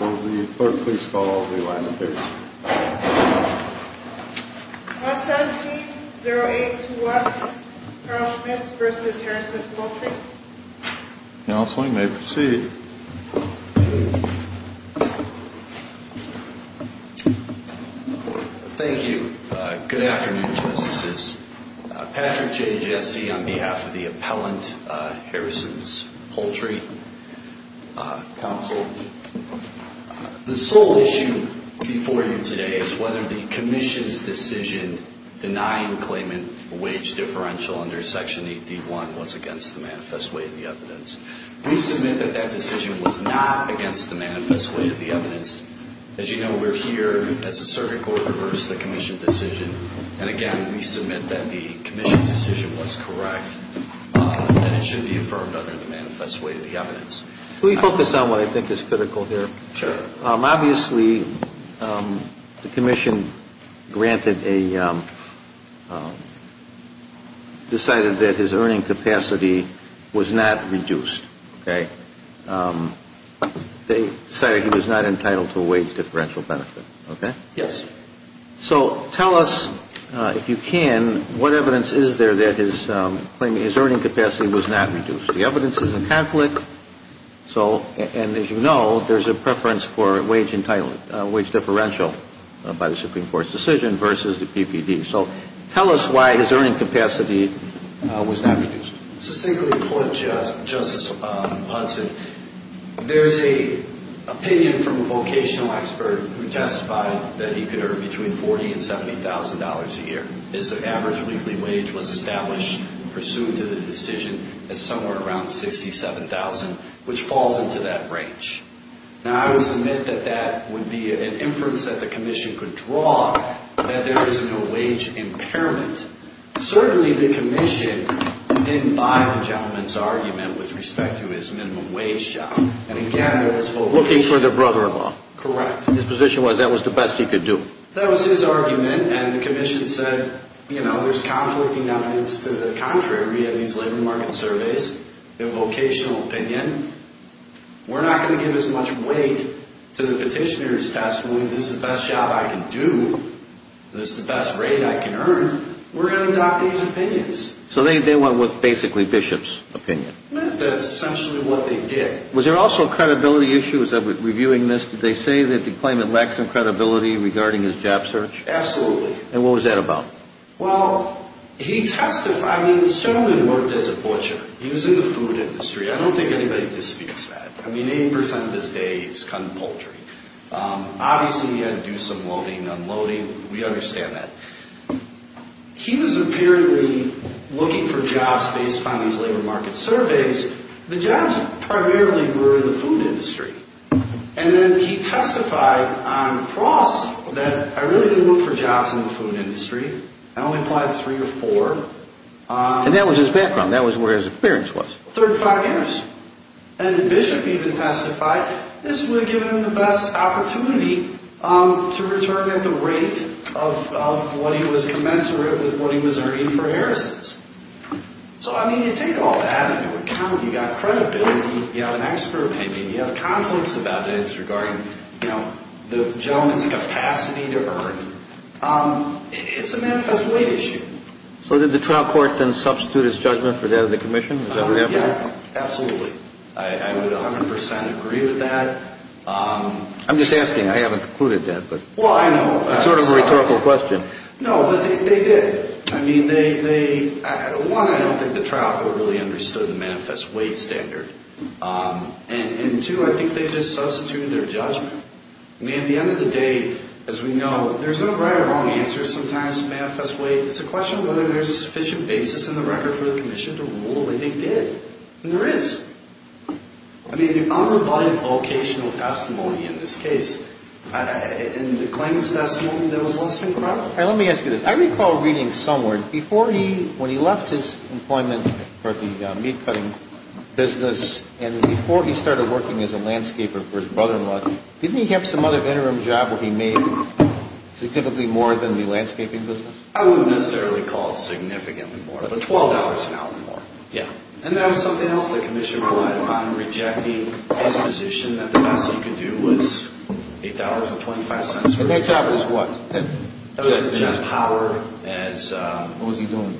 Will the clerk please call the last case. 117-0821, Carl Schmitz v. Harrisons Poultry Counseling may proceed. Thank you. Good afternoon, Justices. Patrick J. Jesse on behalf of the appellant, Harrisons Poultry. Counsel. The sole issue before you today is whether the commission's decision denying the claimant a wage differential under Section 8D.1 was against the manifest way of the evidence. We submit that that decision was not against the manifest way of the evidence. As you know, we're here as a circuit court to reverse the commission's decision. And again, we submit that the commission's decision was correct and it should be affirmed under the manifest way of the evidence. Can we focus on what I think is critical here? Sure. Obviously, the commission decided that his earning capacity was not reduced. They decided he was not entitled to a wage differential benefit. Yes. So tell us, if you can, what evidence is there that his earning capacity was not reduced? The evidence is in conflict. And as you know, there's a preference for a wage differential by the Supreme Court's decision versus the PPD. So tell us why his earning capacity was not reduced. Succinctly put, Justice Hudson, there's an opinion from a vocational expert who testified that he could earn between $40,000 and $70,000 a year. His average weekly wage was established pursuant to the decision as somewhere around $67,000, which falls into that range. Now, I would submit that that would be an inference that the commission could draw, that there is no wage impairment. Certainly, the commission didn't buy the gentleman's argument with respect to his minimum wage job. And again, it was for looking for the brother-in-law. Correct. His position was that was the best he could do. That was his argument, and the commission said, you know, there's conflicting evidence to the contrary in these labor market surveys, the vocational opinion. We're not going to give as much weight to the petitioner's testimony. This is the best job I can do. This is the best rate I can earn. We're going to adopt these opinions. So they went with basically Bishop's opinion. That's essentially what they did. Was there also a credibility issue as I was reviewing this? Did they say that the claimant lacked some credibility regarding his job search? Absolutely. And what was that about? Well, he testified. I mean, this gentleman worked as a butcher. He was in the food industry. I don't think anybody disputes that. I mean, 80% of his day he was cutting poultry. Obviously, he had to do some loading and unloading. We understand that. He was apparently looking for jobs based upon these labor market surveys. The jobs primarily were in the food industry. And then he testified on the cross that I really didn't look for jobs in the food industry. I only applied three or four. And that was his background. That was where his appearance was. 35 years. And Bishop even testified this would have given him the best opportunity to return at the rate of what he was commensurate with what he was earning for Harrison's. So, I mean, you take all that into account. You've got credibility. You have an expert opinion. You have conflicts about it. It's regarding the gentleman's capacity to earn. It's a manifest way issue. So did the trial court then substitute his judgment for that of the commission? Yeah, absolutely. I would 100% agree with that. I'm just asking. I haven't concluded that. Well, I know. It's sort of a rhetorical question. No, but they did. I mean, one, I don't think the trial court really understood the manifest weight standard. And, two, I think they just substituted their judgment. I mean, at the end of the day, as we know, there's no right or wrong answer sometimes to manifest weight. It's a question of whether there's a sufficient basis in the record for the commission to rule. And they did. And there is. I mean, the unrebutted vocational testimony in this case and the claims testimony that was less than credible. All right, let me ask you this. I recall reading somewhere, when he left his employment for the meat-cutting business and before he started working as a landscaper for his brother-in-law, didn't he have some other interim job where he made significantly more than the landscaping business? I wouldn't necessarily call it significantly more, but $12 an hour or more. Yeah. And that was something else the commission relied upon, rejecting his position that the best he could do was $8.25. And that job was what? That was for Jeff Power. What was he doing?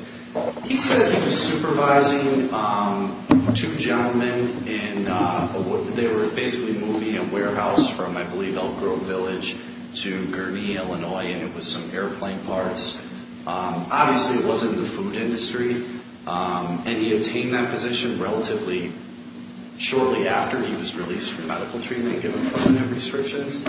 He said he was supervising two gentlemen. And they were basically moving a warehouse from, I believe, Elk Grove Village to Gurnee, Illinois, and it was some airplane parts. Obviously, it wasn't the food industry. And he obtained that position relatively shortly after he was released from medical treatment, given permanent restrictions.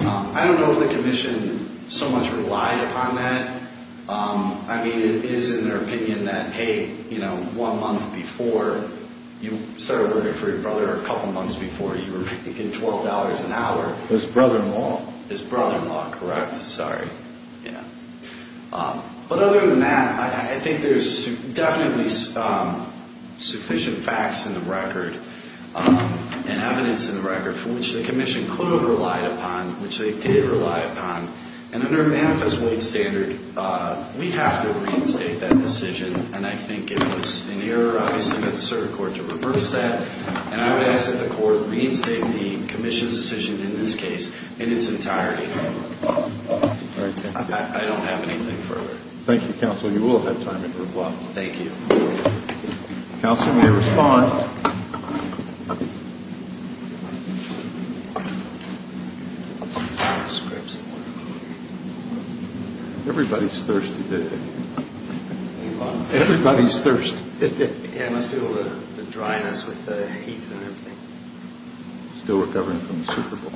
I don't know if the commission so much relied upon that. I mean, it is in their opinion that, hey, you know, one month before you started working for your brother or a couple months before, you were making $12 an hour. His brother-in-law. His brother-in-law, correct. Sorry. Yeah. But other than that, I think there's definitely sufficient facts in the record and evidence in the record for which the commission could have relied upon, which they did rely upon. And under Manifest Weight Standard, we have to reinstate that decision. And I think it was an error, obviously, that the circuit court to reverse that. And I would ask that the court reinstate the commission's decision in this case in its entirety. I don't have anything further. Thank you, counsel. You will have time to reply. Thank you. Counsel may respond. Everybody's thirsty today. Everybody's thirsty. Yeah, I must feel the dryness with the heat and everything. Still recovering from the Super Bowl.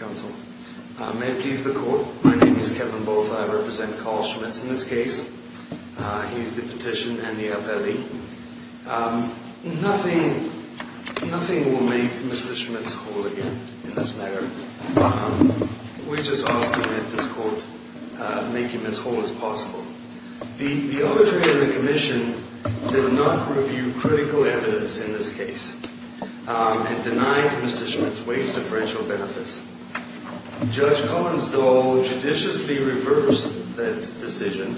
Counsel, may I please the court? My name is Kevin Botha. I represent Carl Schmitz in this case. He's the petition and the appellee. Nothing will make Mr. Schmitz whole again in this matter. We're just asking that this court make him as whole as possible. The obituary of the commission did not review critical evidence in this case and denied Mr. Schmitz wage differential benefits. Judge Collins, though, judiciously reversed that decision,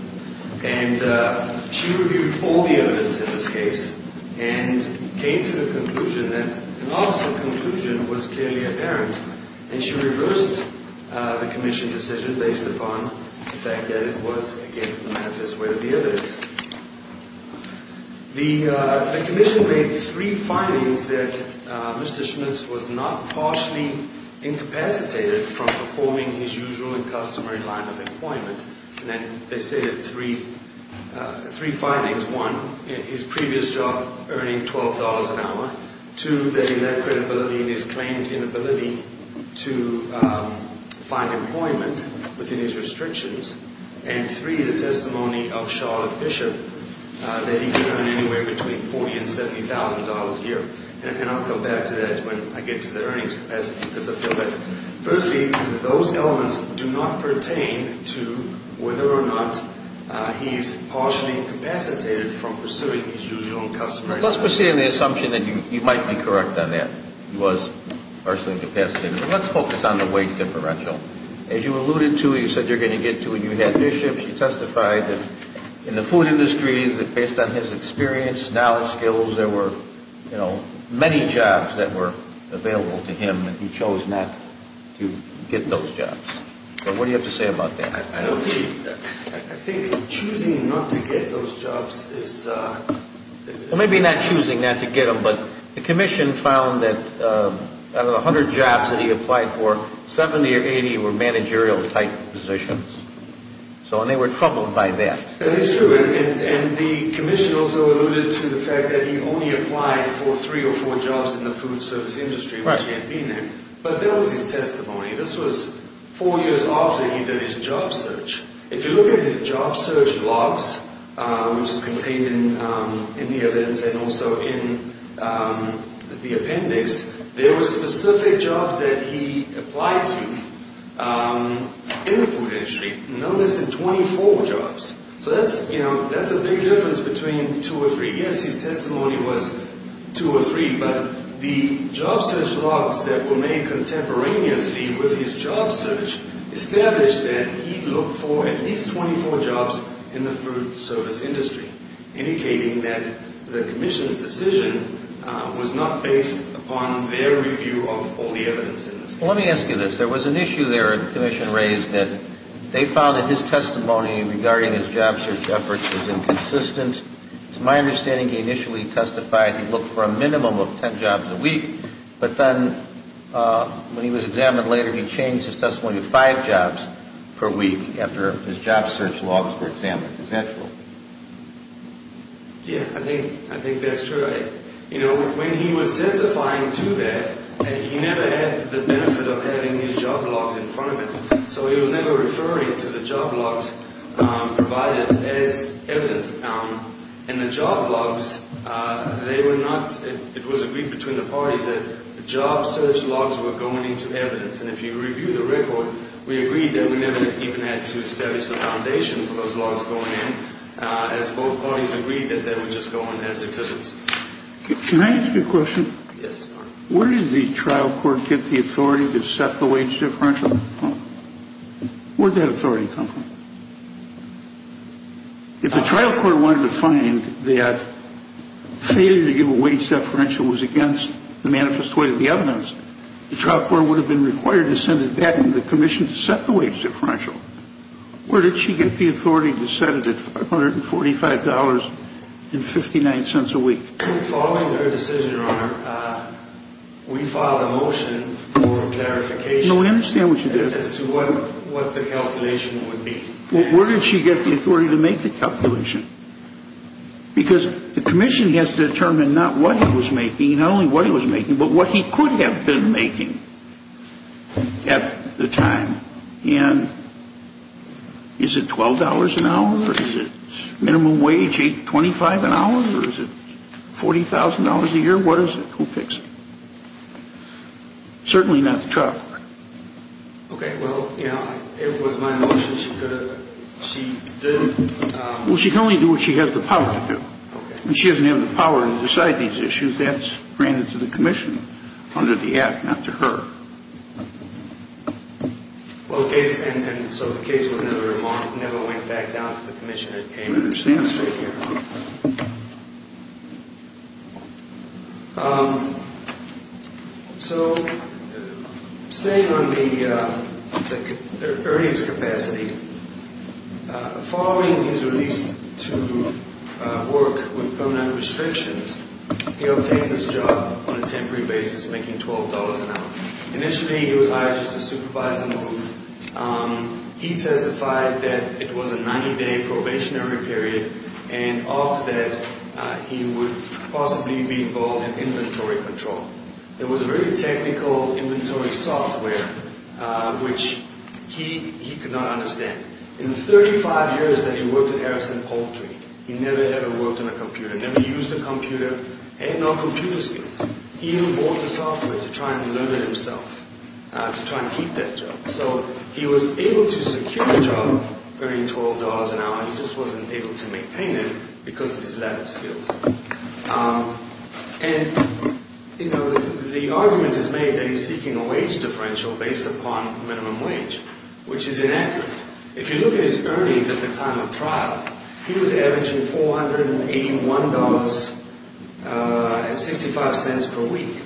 and she reviewed all the evidence in this case and came to the conclusion that the loss of conclusion was clearly apparent. And she reversed the commission decision based upon the fact that it was against the manifest way of the evidence. The commission made three findings that Mr. Schmitz was not partially incapacitated from performing his usual and customary line of employment. And they stated three findings. One, his previous job earning $12 an hour. Two, that he lacked credibility in his claim of inability to find employment within his restrictions. And three, the testimony of Charlotte Bishop that he could earn anywhere between $40,000 and $70,000 a year. And I'll come back to that when I get to the earnings capacity because I feel that, firstly, those elements do not pertain to whether or not he is partially incapacitated from pursuing his usual and customary line of employment. Let's proceed on the assumption that you might be correct on that. He was partially incapacitated. Let's focus on the wage differential. As you alluded to, you said you're going to get to it. You had Bishop. She testified that in the food industry, that based on his experience, knowledge, skills, there were, you know, many jobs that were available to him, and he chose not to get those jobs. So what do you have to say about that? I think choosing not to get those jobs is a Well, maybe not choosing not to get them, but the commission found that out of the 100 jobs that he applied for, 70 or 80 were managerial-type positions. So they were troubled by that. That is true. And the commission also alluded to the fact that he only applied for three or four jobs in the food service industry, which he had been in. But that was his testimony. This was four years after he did his job search. If you look at his job search logs, which is contained in the evidence and also in the appendix, there were specific jobs that he applied to in the food industry, no less than 24 jobs. So that's, you know, that's a big difference between two or three. Yes, his testimony was two or three, but the job search logs that were made contemporaneously with his job search established that he looked for at least 24 jobs in the food service industry, indicating that the commission's decision was not based upon their review of all the evidence in this case. Well, let me ask you this. There was an issue there the commission raised that they found that his testimony regarding his job search efforts was inconsistent. To my understanding, he initially testified he looked for a minimum of 10 jobs a week, but then when he was examined later, he changed his testimony to five jobs per week after his job search logs were examined. Is that true? Yes, I think that's true. You know, when he was testifying to that, he never had the benefit of having his job logs in front of him. So he was never referring to the job logs provided as evidence. And the job logs, they were not, it was agreed between the parties that the job search logs were going into evidence. And if you review the record, we agreed that we never even had to establish the foundation for those logs going in, as both parties agreed that they would just go on as existence. Can I ask you a question? Yes. Where did the trial court get the authority to set the wage differential? Where did that authority come from? If the trial court wanted to find that failure to give a wage differential was against the manifest way of the evidence, the trial court would have been required to send it back to the commission to set the wage differential. Where did she get the authority to set it at $545.59 a week? Following her decision, Your Honor, we filed a motion for clarification. No, I understand what you did. As to what the calculation would be. Where did she get the authority to make the calculation? Because the commission has to determine not what he was making, not only what he was making, but what he could have been making at the time. And is it $12 an hour? Is it minimum wage $8.25 an hour? Or is it $40,000 a year? What is it? Who picks it? Certainly not the trial court. Okay, well, you know, it was my motion. She could have, she did. Well, she can only do what she has the power to do. When she doesn't have the power to decide these issues, that's granted to the commission under the act, not to her. Okay, and so the case never went back down to the commission. I understand that. Thank you, Your Honor. So, staying on the earnings capacity, following his release to work with Bonilla Restrictions, he obtained this job on a temporary basis, making $12 an hour. Initially, he was hired just to supervise the move. He testified that it was a 90-day probationary period, and after that, he would possibly be involved in inventory control. It was a very technical inventory software, which he could not understand. In the 35 years that he worked at Harrison Poultry, he never, ever worked on a computer, never used a computer, had no computer skills. He even bought the software to try and learn it himself, to try and keep that job. So he was able to secure the job, earning $12 an hour. He just wasn't able to maintain it because of his lack of skills. And, you know, the argument is made that he's seeking a wage differential based upon minimum wage, which is inaccurate. If you look at his earnings at the time of trial, he was averaging $481.65 per week,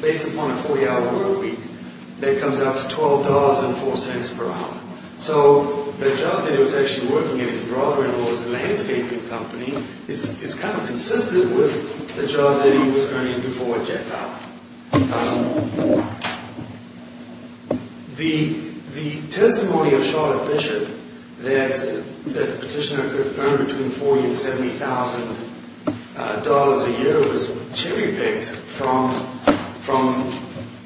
based upon a 40-hour work week. That comes out to $12.04 per hour. So the job that he was actually working at his brother-in-law's landscaping company is kind of consistent with the job that he was earning before he checked out. The testimony of Charlotte Bishop that the petitioner could earn between $40,000 and $70,000 a year was cherry-picked from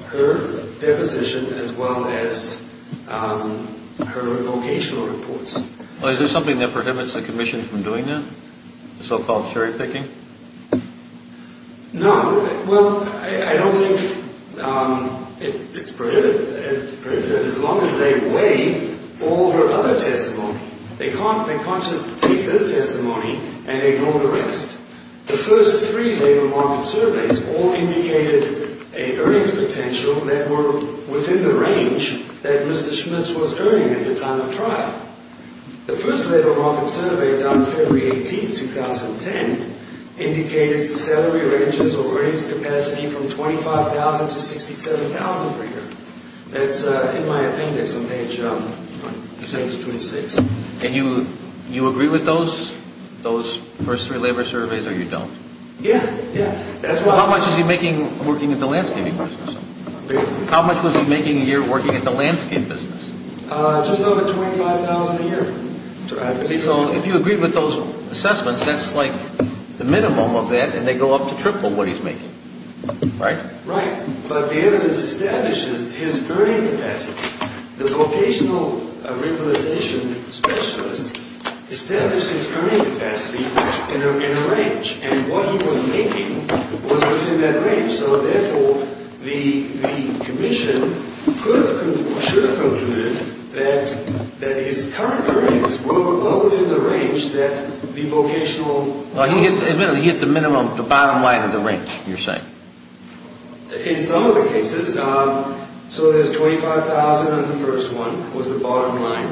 her deposition as well as her vocational reports. Well, is there something that prohibits the commission from doing that, so-called cherry-picking? No. Well, I don't think it's prohibited, as long as they weigh all her other testimony. They can't just take this testimony and ignore the rest. The first three labor market surveys all indicated an earnings potential that were within the range that Mr. Schmitz was earning at the time of trial. The first labor market survey done February 18, 2010 indicated salary ranges of earnings capacity from $25,000 to $67,000 per year. That's, in my opinion, a major change to his state. And you agree with those first three labor surveys, or you don't? Yeah. How much was he making working at the landscaping business? How much was he making a year working at the landscape business? Just over $25,000 a year. So if you agree with those assessments, that's like the minimum of that, and they go up to triple what he's making, right? Right. But the evidence establishes his earning capacity. The vocational rehabilitation specialist established his earning capacity in a range, so, therefore, the commission should have concluded that his current earnings were within the range that the vocational... He hit the minimum, the bottom line of the range, you're saying? In some of the cases... So there's $25,000 in the first one was the bottom line.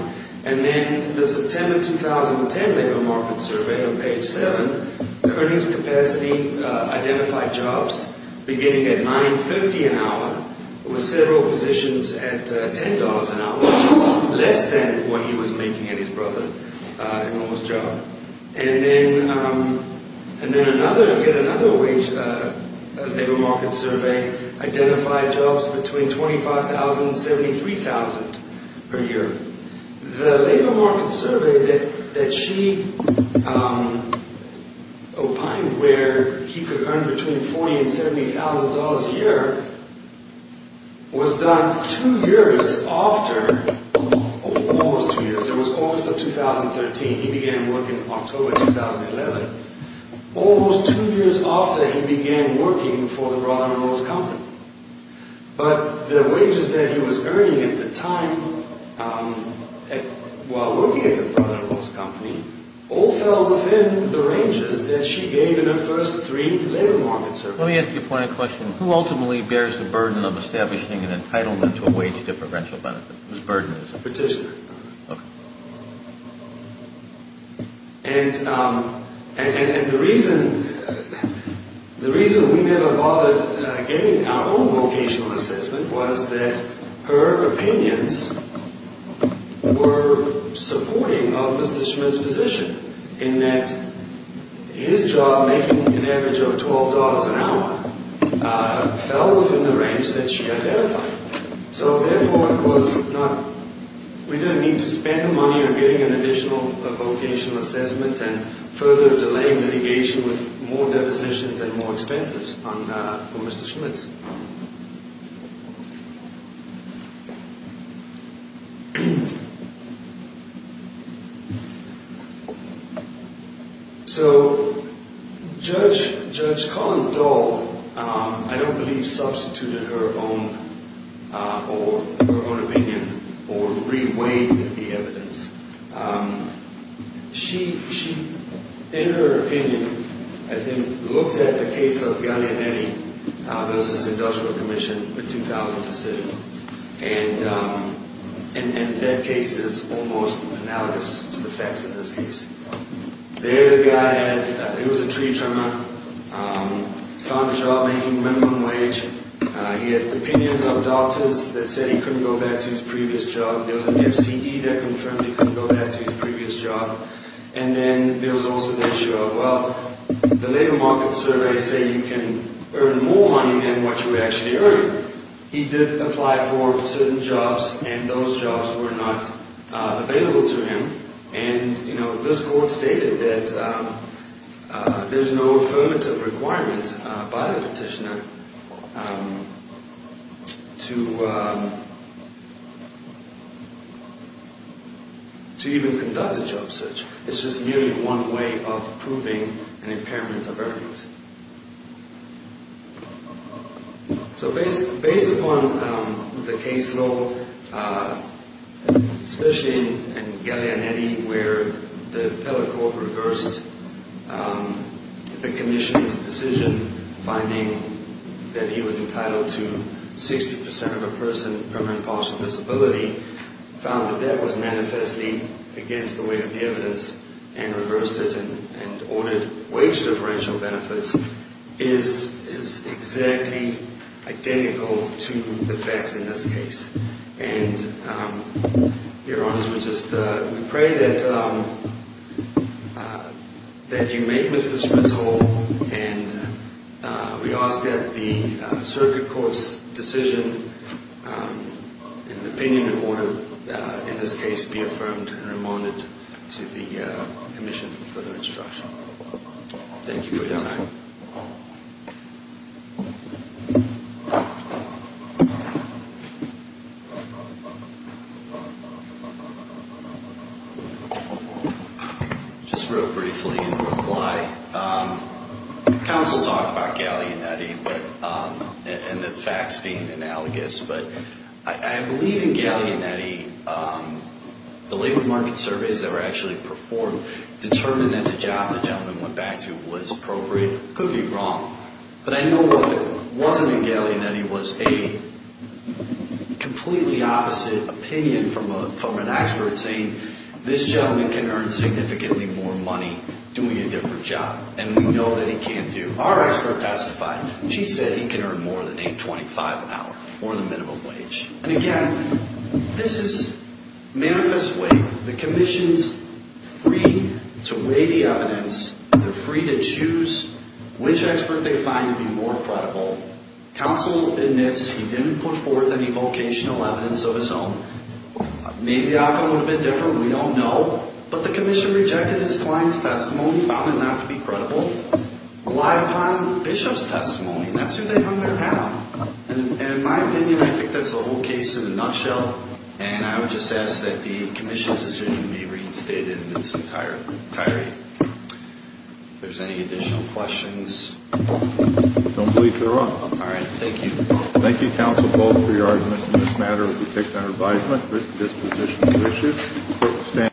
And then the September 2010 labor market survey on page 7, the earnings capacity identified jobs beginning at $9.50 an hour with several positions at $10 an hour, which is less than what he was making at his brother-in-law's job. And then another labor market survey identified jobs between $25,000 and $73,000 per year. The labor market survey that she opined where he could earn between $40,000 and $70,000 a year was done two years after... almost two years. It was August of 2013. He began work in October 2011. Almost two years after he began working for the brother-in-law's company. But the wages that he was earning at the time while working at the brother-in-law's company all fell within the ranges that she gave in her first three labor market surveys. Let me ask you a point of question. Who ultimately bears the burden of establishing an entitlement to a wage differential benefit? Whose burden is it? Petitioner. Okay. And the reason we never bothered getting our own vocational assessment was that her opinions were supporting of Mr. Schmitt's position in that his job making an average of $12 an hour fell within the range that she identified. So, therefore, it was not... We didn't need to spend the money on getting an additional vocational assessment and further delaying litigation with more depositions and more expenses for Mr. Schmitt. So, Judge Collins et al., I don't believe, substituted her own opinion or re-weighed the evidence. She, in her opinion, I think, looked at the case of Gallianetti versus Industrial Commission, the 2000 decision. And that case is almost analogous to the facts of this case. There, the guy had... He was a tree trimmer. He found a job making minimum wage. He had opinions of doctors that said he couldn't go back to his previous job. There was an F.C.E. that confirmed he couldn't go back to his previous job. And then there was also the issue of, well, the labor market surveys say you can earn more money than what you actually earn. He did apply for certain jobs, and those jobs were not available to him. And, you know, this court stated that there's no affirmative requirement by the petitioner to even conduct a job search. It's just merely one way of proving an impairment of earnings. So based upon the case law, especially in Gallianetti, where the appellate court reversed the commission's decision, finding that he was entitled to 60 percent of a person permanent partial disability, found that that was manifestly against the weight of the evidence, and reversed it and ordered wage differential benefits is exactly identical to the facts in this case. And, Your Honors, we just pray that you make Mr. Schmitz whole, and we ask that the circuit court's decision and opinion in order, in this case, be affirmed and remanded to the commission for further instruction. Thank you for your time. Just real briefly in reply, counsel talked about Gallianetti and the facts being analogous, but I believe in Gallianetti the labor market surveys that were actually performed determined that the job the gentleman went back to was appropriate. I could be wrong, but I know that it wasn't in Gallianetti. It was a completely opposite opinion from an expert saying this gentleman can earn significantly more money doing a different job, and we know that he can't do. Our expert testified. She said he can earn more than a $25 an hour or the minimum wage. And again, this is manifestly the commission's free to weigh the evidence. They're free to choose which expert they find to be more credible. Counsel admits he didn't put forth any vocational evidence of his own. Maybe the outcome would have been different. We don't know. But the commission rejected his client's testimony, found it not to be credible, relied upon the bishop's testimony, and that's who they hung their hat on. And in my opinion, I think that's the whole case in a nutshell, and I would just ask that the commission's decision be reinstated in its entireity. If there's any additional questions. I don't believe there are. All right. Thank you. Thank you, counsel, both for your arguments in this matter. We take that advisement. This position is issued.